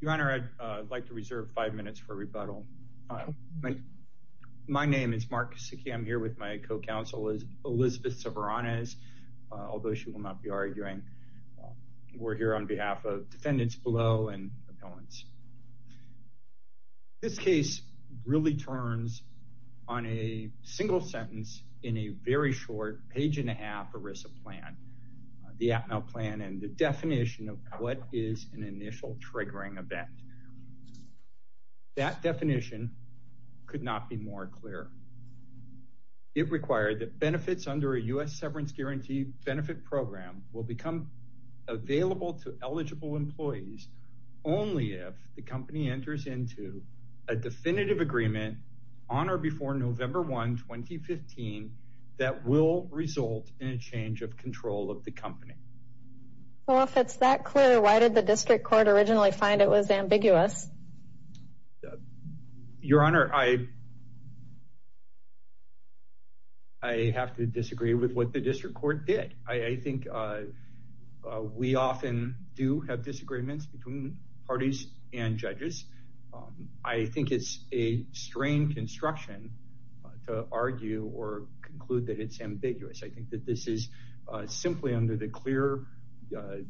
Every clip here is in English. Your Honor, I'd like to reserve five minutes for rebuttal. My name is Mark Sikkim. I'm here with my co-counsel is Elizabeth Severanez, although she will not be arguing. We're here on behalf of defendants below and appellants. This case really turns on a single sentence in a very short page and a half ERISA plan, the APML plan and the definition of what is an act. That definition could not be more clear. It required that benefits under a U.S. severance guarantee benefit program will become available to eligible employees only if the company enters into a definitive agreement on or before November 1, 2015, that will result in a change of control of the company. Well, if it's that clear, why did the district court originally find it was ambiguous? Your Honor, I have to disagree with what the district court did. I think we often do have disagreements between parties and judges. I think it's a strange instruction to argue or conclude that it's ambiguous. I think that this is simply under the clear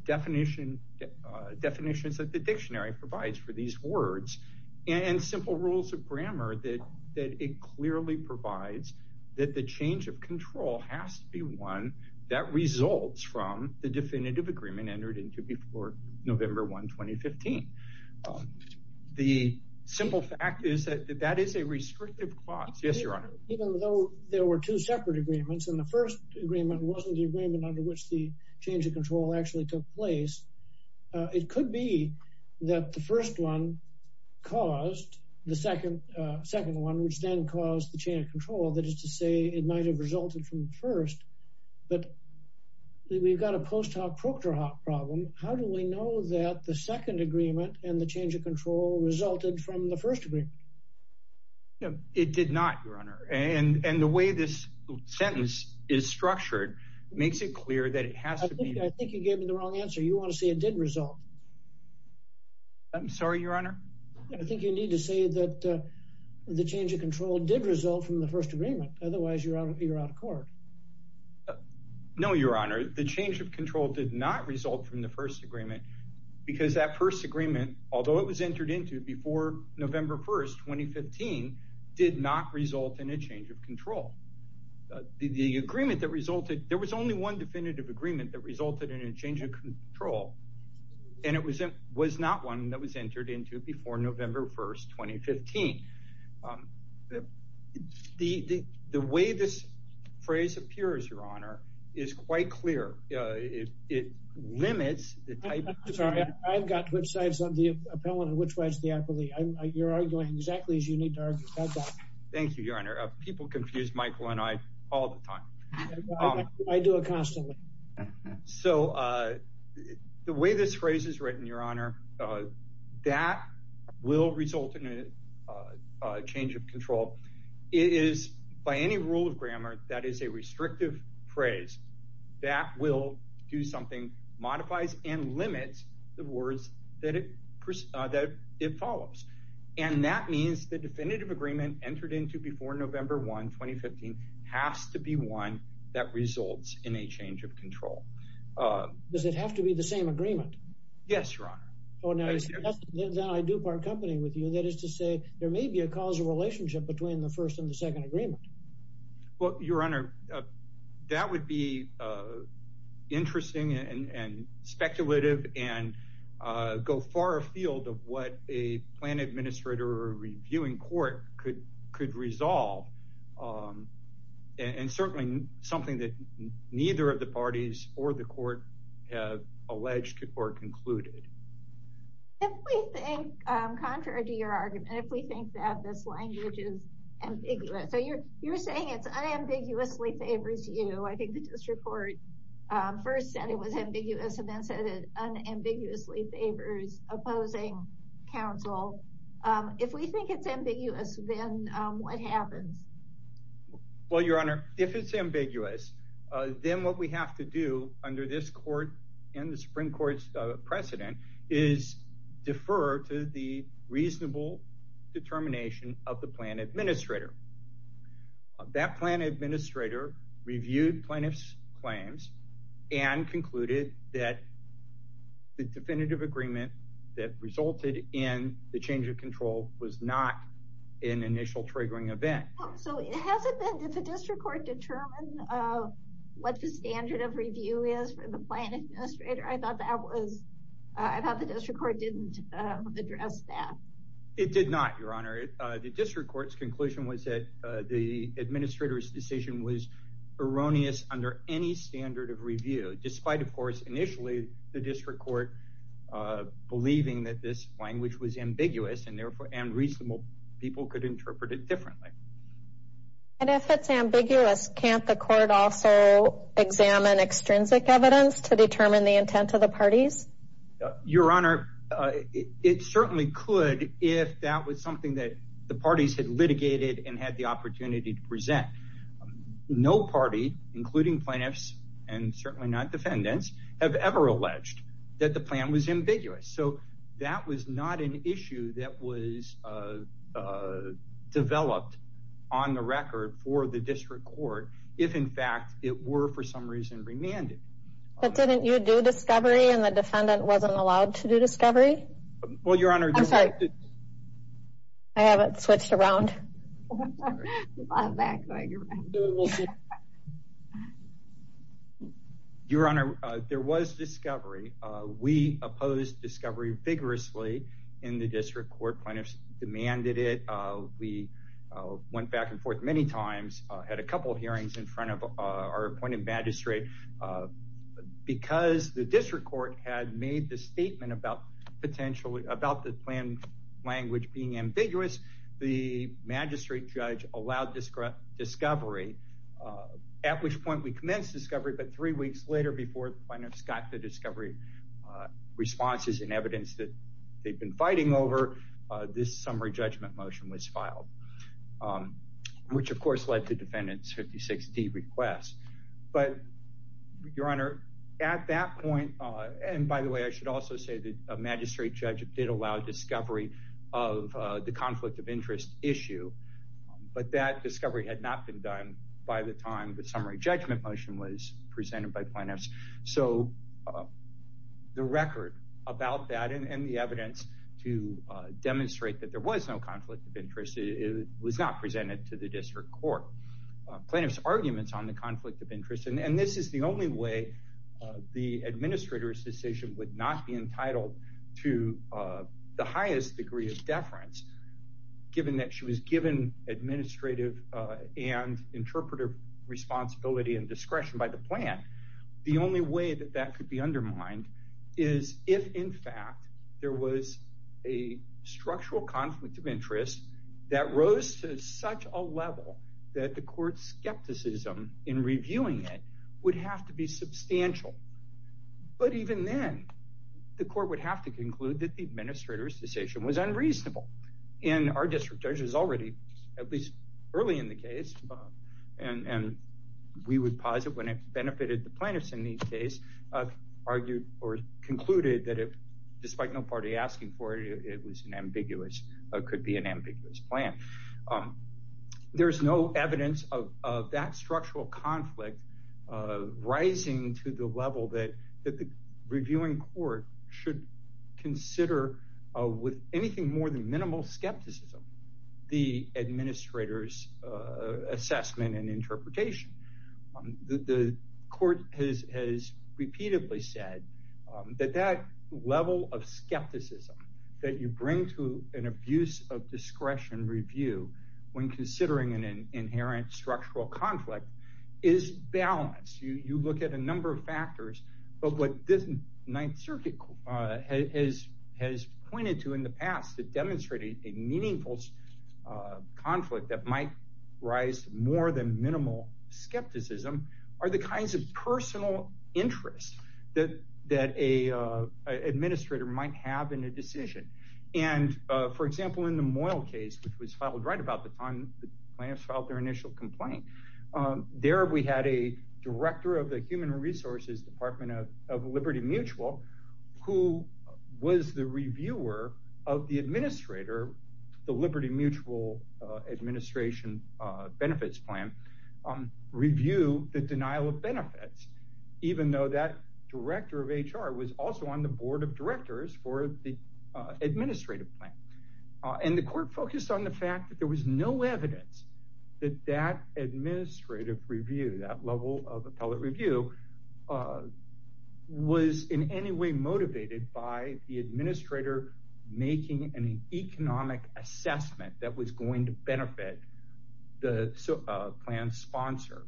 definitions that the dictionary provides for these words and simple rules of grammar that it clearly provides that the change of control has to be one that results from the definitive agreement entered into before November 1, 2015. The simple fact is that that is a restrictive clause. Yes, Your Honor. Even though there were two separate agreements and the first agreement wasn't the agreement under which the change of control actually took place, it could be that the first one caused the second one, which then caused the change of control. That is to say, it might have resulted from the first, but we've got a post hoc proctor hoc problem. How do we know that the second agreement and the change of control resulted from the first agreement? No, it did not, Your Honor. And the way this sentence is structured, it makes it clear that it has to be. I think you gave me the wrong answer. You want to say it did result. I'm sorry, Your Honor. I think you need to say that the change of control did result from the first agreement. Otherwise, you're out of court. No, Your Honor. The change of control did not result from the first agreement because that first agreement, although it was 2015, did not result in a change of control. The agreement that resulted, there was only one definitive agreement that resulted in a change of control. And it was it was not one that was entered into before November 1st, 2015. The the way this phrase appears, Your Honor, is quite clear. It limits the type. Sorry, I've got websites on the appellant, which was the least you need to argue about that. Thank you, Your Honor. People confuse Michael and I all the time. I do it constantly. So the way this phrase is written, Your Honor, that will result in a change of control. It is by any rule of grammar that is a restrictive phrase that will do something modifies and limits the words that it follows. And that means the definitive agreement entered into before November 1, 2015 has to be one that results in a change of control. Does it have to be the same agreement? Yes, Your Honor. Oh, now I do part company with you. That is to say, there may be a causal relationship between the first and the second agreement. Well, Your Honor, that would be interesting and speculative and go far afield of what a plan administrator or reviewing court could could resolve. And certainly something that neither of the parties or the court have alleged or concluded. If we think contrary to your argument, if we think that this language is ambiguous, so you're you're saying it's unambiguously favors you. I think the district court first said it was ambiguous and then said it unambiguously favors opposing counsel. If we think it's ambiguous, then what happens? Well, Your Honor, if it's ambiguous, then what we have to do under this court and the Supreme Court's precedent is defer to the reasonable determination of the plan administrator. That plan administrator reviewed plaintiff's claims and concluded that the definitive agreement that resulted in the change of control was not an initial triggering event. So it hasn't been to the district court determine what the standard of review is for the plan administrator. I thought the district court didn't address that. It did not, Your Honor, the district court's conclusion was that the administrator's decision was erroneous under any standard of review, despite, of course, initially, the district court, believing that this language was ambiguous and therefore unreasonable, people could interpret it differently. And if it's ambiguous, can't the court also examine extrinsic evidence to determine the intent of the parties? Your Honor, it certainly could, if that was something that the parties had litigated and had the opportunity to present. No party, including plaintiffs, and certainly not defendants, have ever alleged that the plan was ambiguous. So that was not an issue that was developed on the record for the district court, if in fact it were for some reason remanded. But didn't you do discovery and the defendant wasn't allowed to do discovery? Well, Your Honor, I'm sorry. I have it switched around. Your Honor, there was discovery. We opposed discovery vigorously in the district court plaintiffs demanded it. We went back and forth many times, had a couple hearings in front of our because the district court had made the statement about potentially about the plan language being ambiguous. The magistrate judge allowed discovery, at which point we commenced discovery. But three weeks later, before plaintiffs got the discovery responses and evidence that they've been fighting over, this summary judgment motion was filed, which of course led to defendant's 56D request. But Your Honor, at that point, and by the way, I should also say that a magistrate judge did allow discovery of the conflict of interest issue. But that discovery had not been done by the time the summary judgment motion was presented by plaintiffs. So the record about that and the evidence to demonstrate that there was no district court plaintiff's arguments on the conflict of interest. And this is the only way the administrator's decision would not be entitled to the highest degree of deference, given that she was given administrative and interpretive responsibility and discretion by the plan. The only way that that could be undermined is if in fact, there was a structural conflict of interest that rose to such a level that the court's skepticism in reviewing it would have to be substantial. But even then, the court would have to conclude that the administrator's decision was unreasonable. And our district judges already, at least early in the case, and we would posit when it benefited the plaintiffs in the case, argued or concluded that if despite no party asking for it, it was an ambiguous or could be an ambiguous plan. There's no evidence of that structural conflict, rising to the level that the reviewing court should consider with anything more than minimal skepticism, the administrator's assessment and interpretation. The court has repeatedly said that that level of skepticism that you bring to an abuse of discretion review, when considering an inherent structural conflict is balanced, you look at a number of factors. But what this Ninth Circuit has has pointed to in the past to demonstrate a meaningful conflict that might rise more than minimal skepticism, are the kinds of personal interest that that a administrator might have in a decision. And, for example, in the Moyle case, which was filed right about the time the plaintiffs filed their initial complaint. There, we had a director of the Human Resources Department of Liberty Mutual, who was the reviewer of the administrator, the Liberty Mutual administration benefits plan, review the denial of benefits, even though that director of HR was also on the board of directors for the administrative plan. And the court focused on the fact that there was no evidence that that administrative review that level of appellate review was in any way motivated by the administrator, making an economic assessment that was going to benefit the plan sponsor.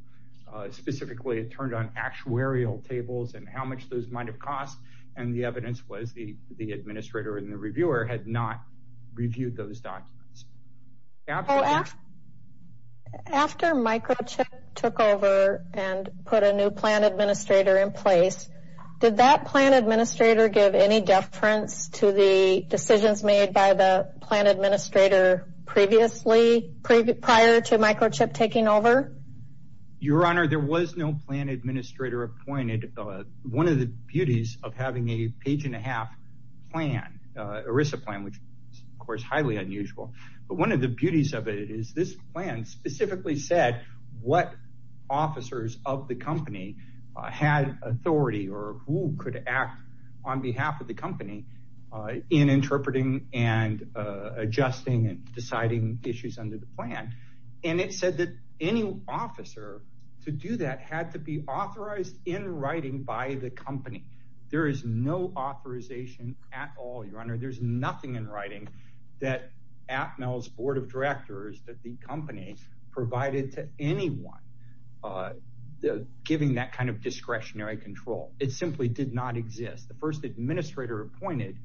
Specifically, it turned on actuarial tables and how much those might have cost. And the evidence was the the administrator and the reviewer had not reviewed those documents. After microchip took over and put a new plan administrator in place, did that plan administrator give any deference to the decisions made by the plan administrator previously prior to microchip taking over? Your Honor, there was no plan administrator appointed. One of the beauties of having a page and a half plan, ERISA plan, which is, of course, highly unusual. But one of the beauties of it is this plan specifically said what officers of the company had authority or who could act on behalf of the company in interpreting and adjusting and deciding issues under the plan. And it said that any officer to do that had to be authorized in writing by the company. There is no authorization at all, Your Honor, there's nothing in writing that at Mel's Board of Directors that the company provided to anyone. Giving that kind of discretionary control, it simply did not exist. The first administrator appointed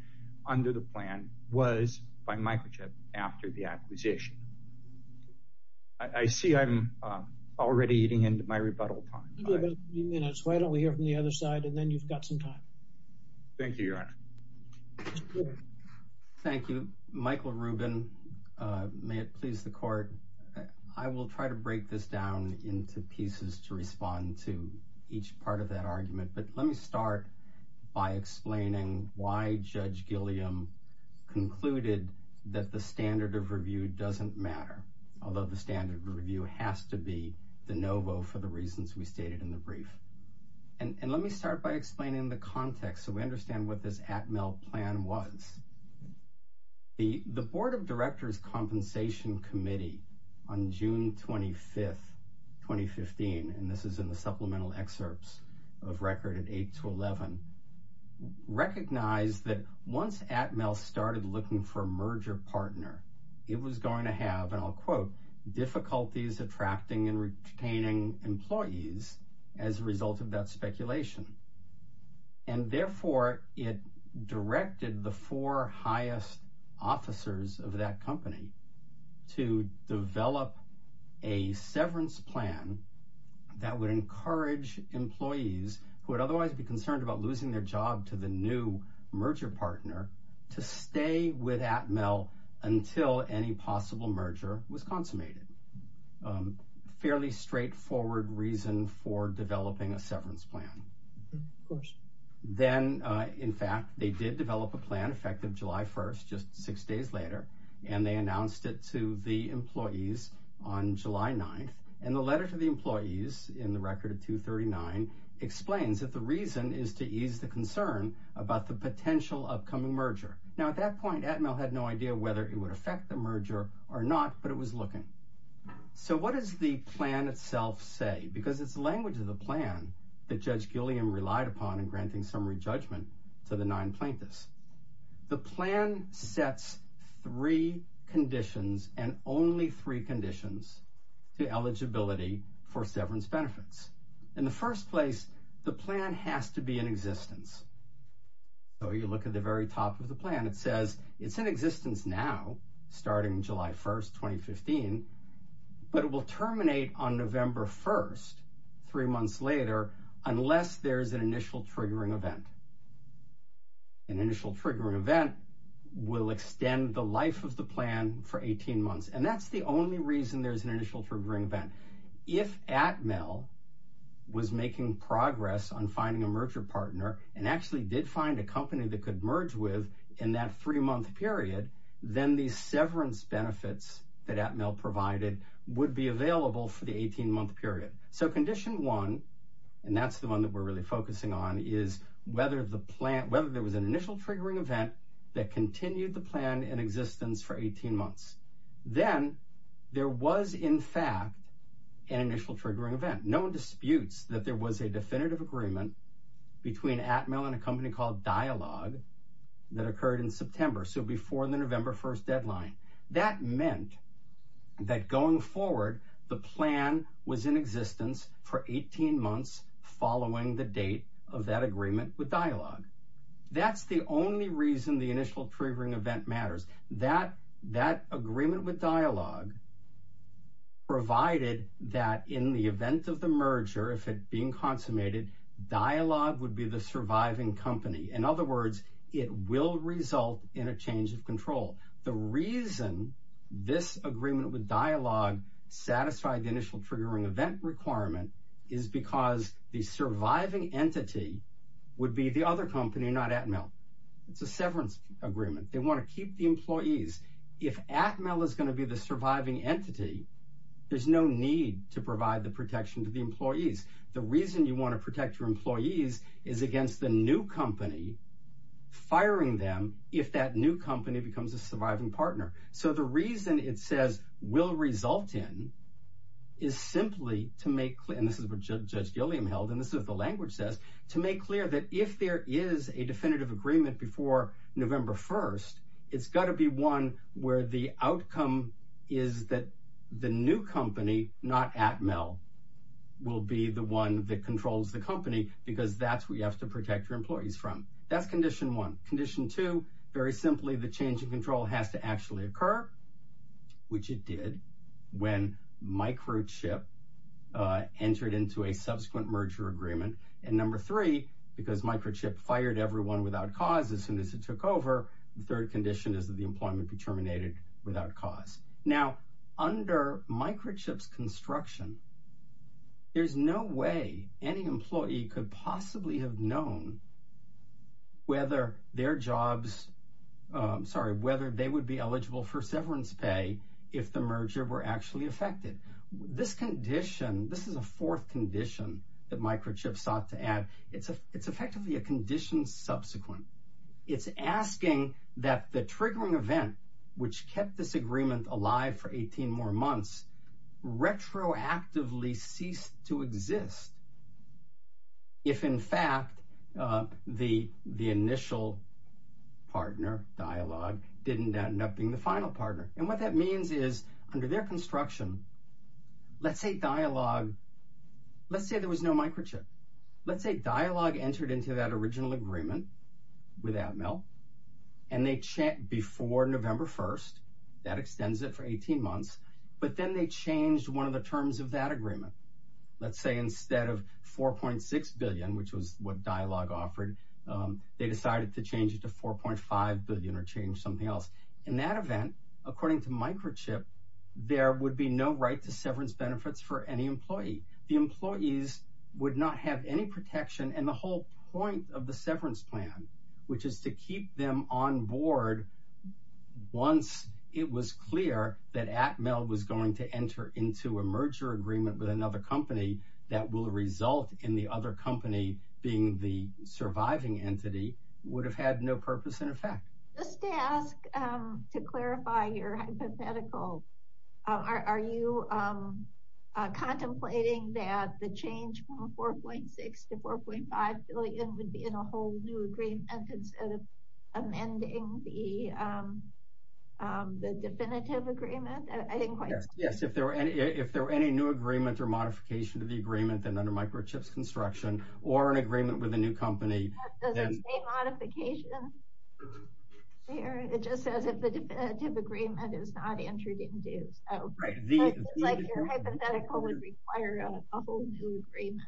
under the plan was by microchip after the acquisition. I see I'm already eating into my rebuttal time. Why don't we hear from the other side and then you've got some time. Thank you, Your Honor. Thank you, Michael Rubin. May it please the court. I will try to break this down into pieces to respond to each part of that and let me start by explaining why Judge Gilliam concluded that the standard of review doesn't matter, although the standard of review has to be the no vote for the reasons we stated in the brief. And let me start by explaining the context so we understand what this at Mel plan was. The Board of Directors Compensation Committee on June 25th, 2015, and this is in the 8 to 11. Recognize that once at Mel started looking for merger partner, it was going to have, and I'll quote difficulties attracting and retaining employees as a result of that speculation. And therefore it directed the four highest officers of that company to develop a severance plan that would encourage employees who would otherwise be concerned about losing their job to the new merger partner to stay with at Mel until any possible merger was consummated. Fairly straightforward reason for developing a severance plan. Then, in fact, they did develop a plan effective July 1st, just six days later, and they announced it to the employees on the record of 239 explains that the reason is to ease the concern about the potential upcoming merger. Now, at that point, at Mel had no idea whether it would affect the merger or not, but it was looking. So what is the plan itself say? Because it's the language of the plan that Judge Gilliam relied upon in granting summary judgment to the nine plaintiffs. The plan sets three conditions and only three conditions to eligibility for severance benefits. In the first place, the plan has to be in existence. So you look at the very top of the plan, it says it's in existence now starting July 1st, 2015, but it will terminate on November 1st, three months later, unless there's an initial triggering event. An initial triggering event will extend the life of the plan for 18 months. And that's the only reason there's an initial triggering event. If at Mel was making progress on finding a merger partner and actually did find a company that could merge with in that three month period, then these severance benefits that at Mel provided would be available for the 18 month period. So condition one, and that's the one that we're really focusing on is whether the plant whether there was an initial triggering event that continued the plan in existence for 18 months, then there was in fact, an initial triggering event, no disputes that there was a definitive agreement between at Mel and a company called dialogue that occurred in September. So before the November 1st deadline, that meant that going forward, the plan was in existence for 18 months following the date of that agreement with dialogue. That's the only reason the that that agreement with dialogue provided that in the event of the merger, if it being consummated, dialogue would be the surviving company. In other words, it will result in a change of control. The reason this agreement with dialogue satisfied the initial triggering event requirement is because the surviving entity would be the other company not at Mel. It's a agreement. They want to keep the employees. If at Mel is going to be the surviving entity, there's no need to provide the protection to the employees. The reason you want to protect your employees is against the new company firing them if that new company becomes a surviving partner. So the reason it says will result in is simply to make clear, and this is what Judge Gilliam held, and this is the language says to make clear that if there is a definitive agreement before November 1st, it's got to be one where the outcome is that the new company not at Mel will be the one that controls the company because that's what you have to protect your employees from. That's condition one. Condition two, very simply, the change in control has to actually occur, which it did when microchip entered into a subsequent merger agreement. And number three, because microchip fired everyone without cause, as soon as it took over, the third condition is that the employment be terminated without cause. Now, under microchips construction, there's no way any employee could possibly have known whether their jobs, sorry, whether they would be eligible for severance pay if the merger were actually affected. This condition, this is a fourth condition that microchip sought to add. It's a effectively a condition subsequent. It's asking that the triggering event, which kept this agreement alive for 18 more months, retroactively ceased to exist. If in fact, the the initial partner dialogue didn't end up being the final partner. And what that means is, under their construction, let's say dialogue, let's say there was no microchip. Let's say dialogue entered into that original agreement with Admel. And they checked before November 1, that extends it for 18 months. But then they changed one of the terms of that agreement. Let's say instead of 4.6 billion, which was what dialogue offered, they decided to change it to 4.5 billion or change something else. In that event, according to microchip, there would be no right to severance benefits for any employee, the employees would not have any protection and the whole point of the severance plan, which is to keep them on board. Once it was clear that Admel was going to enter into a merger agreement with another company that will result in the other company being the surviving entity would have had no purpose in effect. Just to ask, to clarify your hypothetical, are you contemplating that the change from 4.6 to 4.5 billion would be in a whole new agreement instead of amending the definitive agreement? Yes, if there were any, if there were any new agreement or modification to the agreement, then under microchips construction, or an agreement with a new company, modification. It just says if the definitive agreement is not your hypothetical would require a whole new agreement.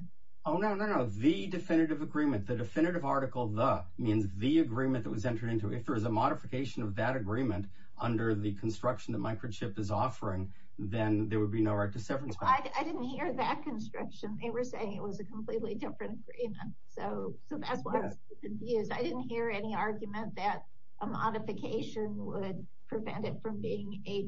Oh, no, no, no, the definitive agreement, the definitive article, the means the agreement that was entered into if there is a modification of that agreement, under the construction that microchip is offering, then there would be no right to severance. I didn't hear that construction, they were saying it was a completely different agreement. So so that's what I didn't hear any argument that a modification would prevent it from being a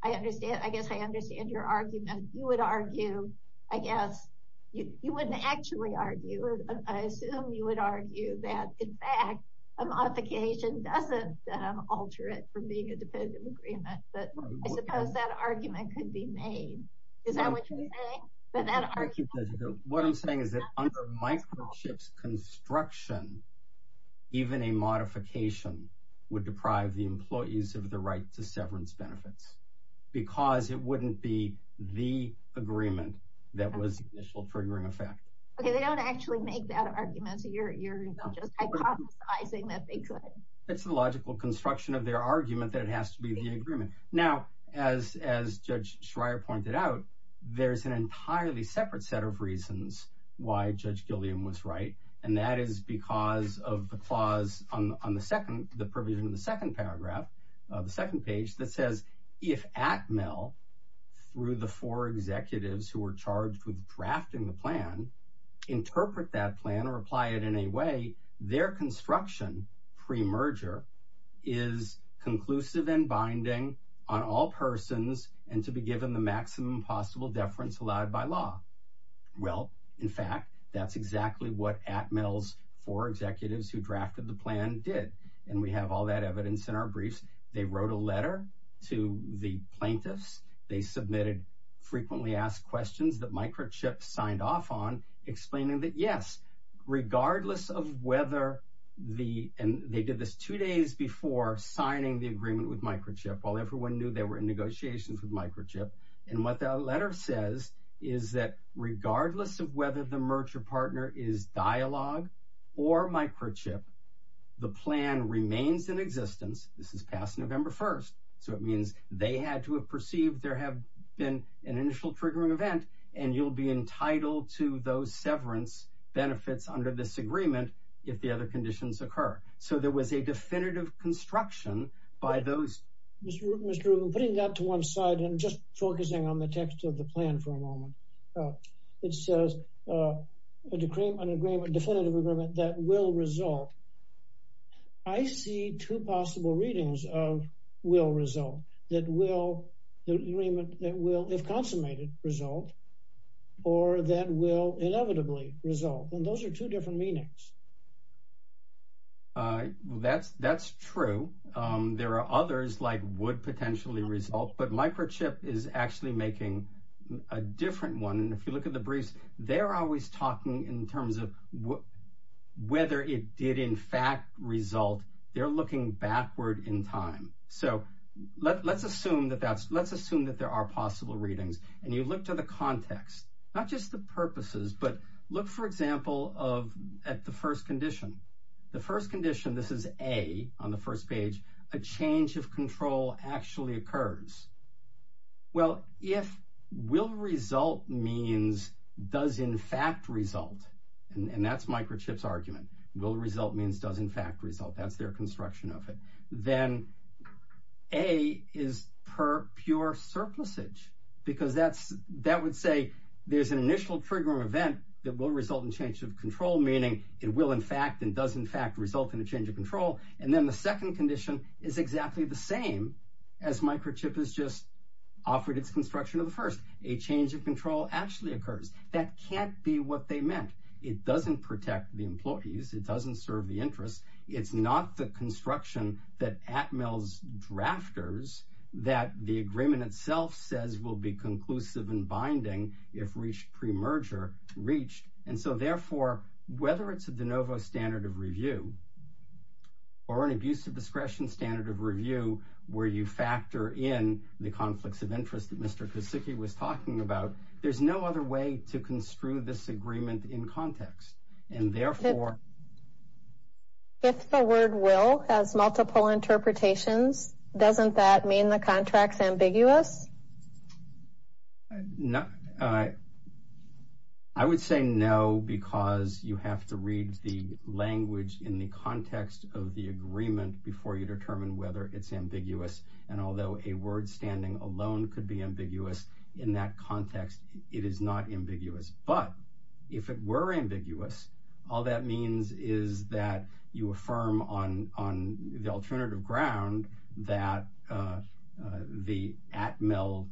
I guess I understand your argument, you would argue, I guess, you wouldn't actually argue, I assume you would argue that in fact, a modification doesn't alter it from being a definitive agreement. But I suppose that argument could be made. Is that what you're saying? What I'm saying is that under microchips construction, even a modification would deprive the employees of the right to Because it wouldn't be the agreement that was initial triggering effect. Okay, they don't actually make that argument. So you're just hypothesizing that they could it's the logical construction of their argument that it has to be the agreement. Now, as as Judge Schreier pointed out, there's an entirely separate set of reasons why Judge Gilliam was right. And that is because of the clause on the second the provision of the through the four executives who were charged with drafting the plan, interpret that plan or apply it in a way their construction pre merger is conclusive and binding on all persons and to be given the maximum possible deference allowed by law. Well, in fact, that's exactly what at mills for executives who drafted the plan did. And we have all that they submitted, frequently asked questions that microchip signed off on explaining that yes, regardless of whether the and they did this two days before signing the agreement with microchip, while everyone knew they were in negotiations with microchip. And what that letter says is that regardless of whether the merger partner is dialogue, or microchip, the plan remains in existence. This is past November 1. So it means they had to have perceived there have been an initial triggering event, and you'll be entitled to those severance benefits under this agreement, if the other conditions occur. So there was a definitive construction by those Mr. Rubin putting that to one side and just focusing on the text of the plan for a moment. It says a decree an agreement definitive agreement that will result. I see two possible readings of will result that will the agreement that will if consummated result, or that will inevitably result and those are two different meanings. I that's that's true. There are others like would potentially result but microchip is actually making a different one. And if you look at the briefs, they're always talking in terms of what whether it did in fact result, they're looking backward in time. So let's assume that that's let's assume that there are possible readings. And you look to the context, not just the purposes, but look, for example, of at the first condition, the first condition, this is a on the first page, a change of control actually occurs. Well, if will result means does in fact result, and that's microchips argument will result means does in fact result, that's their construction of it, then a is per pure surplus age, because that's that would say there's an initial trigger event that will result in change of control, meaning it will in fact and does in fact result in a change of control. And then the second condition is exactly the same as microchip is just offered its construction of the first a change of control actually occurs, that can't be what they meant. It doesn't protect the employees, it doesn't serve the interest. It's not the construction that at mills drafters, that the agreement itself says will be conclusive and binding if reached pre merger reached. And so therefore, whether it's a de novo standard of review, or an abuse of discretion standard of review, where you factor in the there's no other way to construe this agreement in context. And therefore, if the word will has multiple interpretations, doesn't that mean the contracts ambiguous? No, I would say no, because you have to read the language in the context of the agreement before you determine whether it's ambiguous. And although a word standing alone could be it is not ambiguous. But if it were ambiguous, all that means is that you affirm on on the alternative ground that the at mill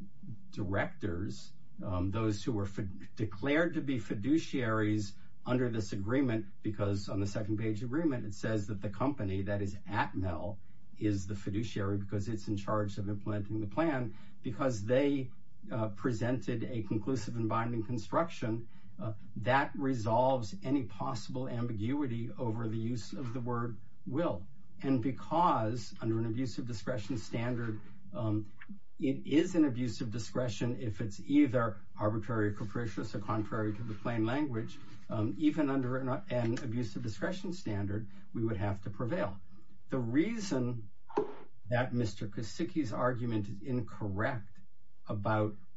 directors, those who were declared to be fiduciaries under this agreement, because on the second page agreement, it says that the company that is at mill is the fiduciary because it's in a conclusive and binding construction that resolves any possible ambiguity over the use of the word will, and because under an abuse of discretion standard, it is an abuse of discretion, if it's either arbitrary or capricious or contrary to the plain language, even under an abuse of discretion standard, we would have to prevail. The reason that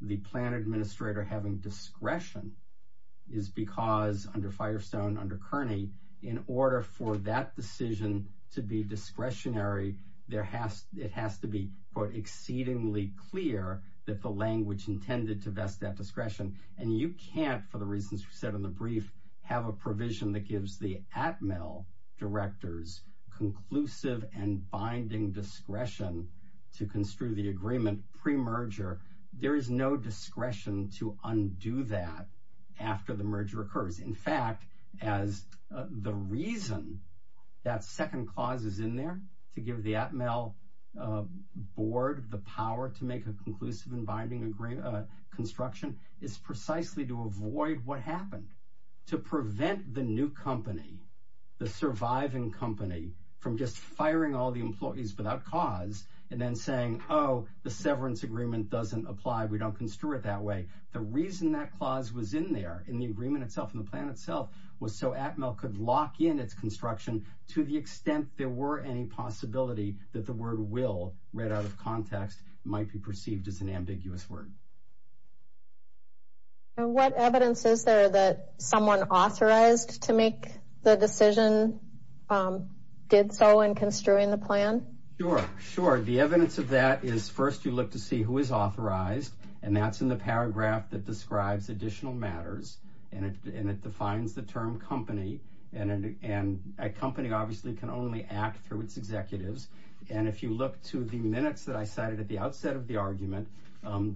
the plan administrator having discretion is because under Firestone under Kearney, in order for that decision to be discretionary, there has it has to be put exceedingly clear that the language intended to vest that discretion, and you can't for the reasons we said in the brief, have a provision that gives the at mill directors conclusive and binding discretion to construe the agreement pre merger, there is no discretion to undo that. After the merger occurs, in fact, as the reason that second clause is in there to give the at mill board the power to make a conclusive and binding agreement, construction is precisely to avoid what happened to prevent the new company, the surviving company from just firing all the employees without cause, and then saying, Oh, the severance agreement doesn't apply, we don't construe it that way. The reason that clause was in there in the agreement itself in the plan itself was so at mill could lock in its construction, to the extent there were any possibility that the word will read out of context might be perceived as an ambiguous word. What evidence is there that someone authorized to make the decision? Did so in construing the plan? Sure, sure. The evidence of that is first you look to see who is authorized. And that's in the paragraph that describes additional matters. And it defines the term company. And a company obviously can only act through its executives. And if you look to the minutes that I cited at the outset of the argument,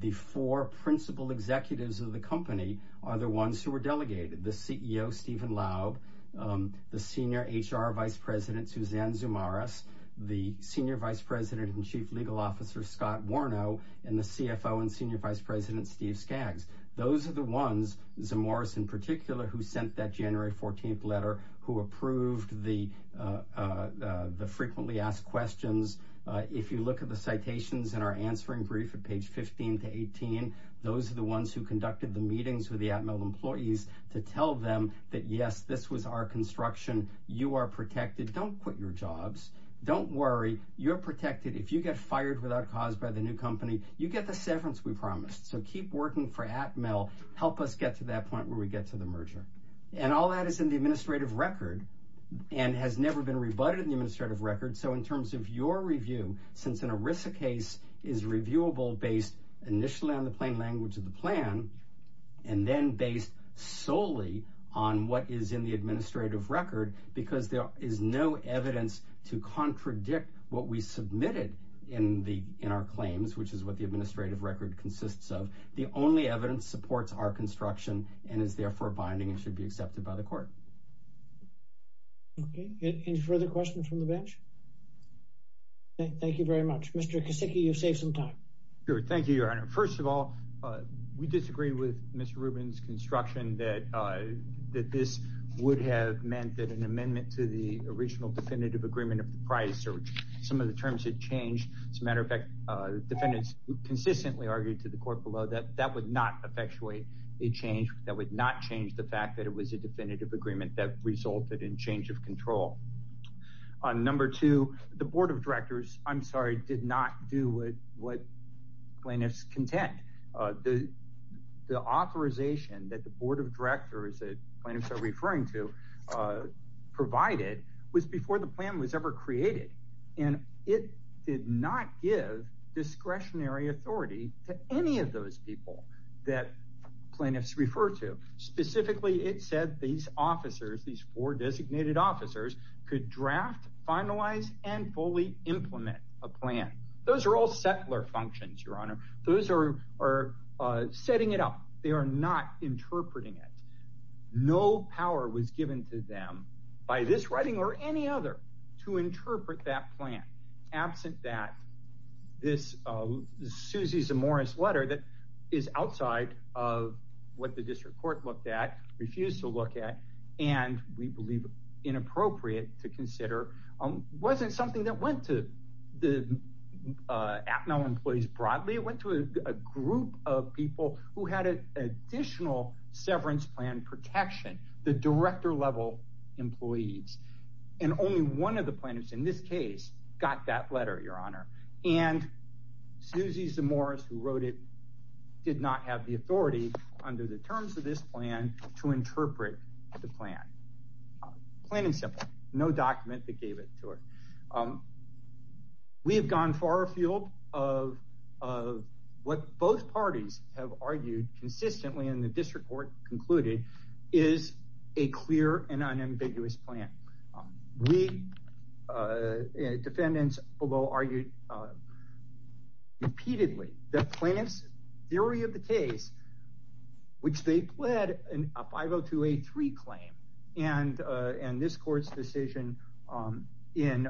the four principal executives of the company are the ones who were delegated the CEO, Stephen Lau, the senior HR vice president Suzanne Zumaraz, the senior vice president and CFO and senior vice president Steve Skaggs. Those are the ones Zumaraz in particular, who sent that January 14 letter who approved the the frequently asked questions. If you look at the citations in our answering brief at page 15 to 18. Those are the ones who conducted the meetings with the at mill employees to tell them that yes, this was our construction, you are protected, don't quit your jobs. Don't worry, you're protected. If you get fired without cause by the new company, you get the severance we promised. So keep working for at mill, help us get to that point where we get to the merger. And all that is in the administrative record, and has never been rebutted in the administrative record. So in terms of your review, since an ERISA case is reviewable based initially on the plain language of the plan, and then based solely on what is in the administrative record, because there is no evidence to contradict what we submitted in our claims, which is what the administrative record consists of. The only evidence supports our construction and is therefore binding and should be accepted by the court. Okay, any further questions from the bench? Thank you very much, Mr. Kosicki, you've saved some time. Good. Thank you, Your Honor. First of all, we disagree with Mr. Rubin's construction that this would have meant that an amendment to the original definitive agreement of the defendants consistently argued to the court below that that would not effectuate a change that would not change the fact that it was a definitive agreement that resulted in change of control. On number two, the Board of Directors, I'm sorry, did not do what what plaintiff's content, the authorization that the Board of Directors that plaintiffs are referring to, provided was before the plan was ever created. And it did not give discretionary authority to any of those people that plaintiffs refer to. Specifically, it said these officers, these four designated officers, could draft, finalize and fully implement a plan. Those are all settler functions, Your Honor. Those are setting it up. They are not interpreting it. No power was given to them by this setting or any other to interpret that plan. Absent that, this Susie Zamora's letter that is outside of what the district court looked at, refused to look at, and we believe inappropriate to consider, wasn't something that went to the APML employees broadly. It went to a group of people who had an additional severance plan protection, the and only one of the plaintiffs in this case got that letter, Your Honor. And Susie Zamora, who wrote it, did not have the authority under the terms of this plan to interpret the plan. Plain and simple, no document that gave it to her. We have gone far afield of what both parties have argued consistently in the district court concluded is a clear and weak defendants, although argued repeatedly, the plaintiff's theory of the case, which they pled a 502A3 claim, and this court's decision in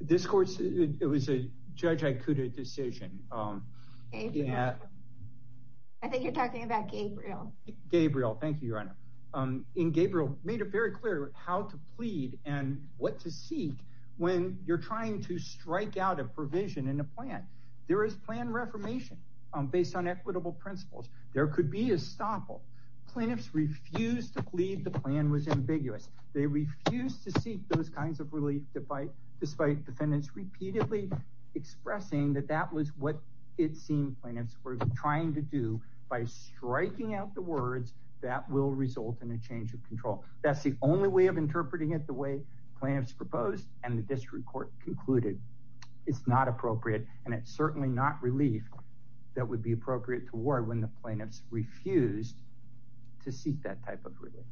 this court's, it was a Judge Ikuda decision. Gabriel, I think you're talking about Gabriel, Gabriel. Thank you, Your Honor. In Gabriel, made it very clear how to plead and what to seek when you're trying to strike out a provision in a plan. There is plan reformation based on equitable principles. There could be a stopple. Plaintiffs refused to plead the plan was ambiguous. They refused to seek those kinds of relief despite defendants repeatedly expressing that that was what it seemed plaintiffs were trying to do by striking out the words that will result in a change of control. That's the only way of interpreting it the way plaintiffs proposed and the district court concluded. It's not appropriate. And it's certainly not relief that would be appropriate to war when the plaintiffs refused to seek that type of relief.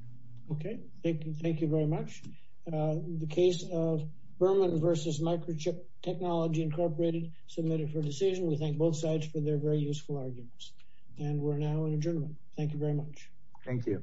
Okay, thank you. Thank you very much. The case of Berman versus Microchip Technology Incorporated submitted for decision. We thank both sides for their very useful arguments. And we're now in adjournment. Thank you very much. Thank you.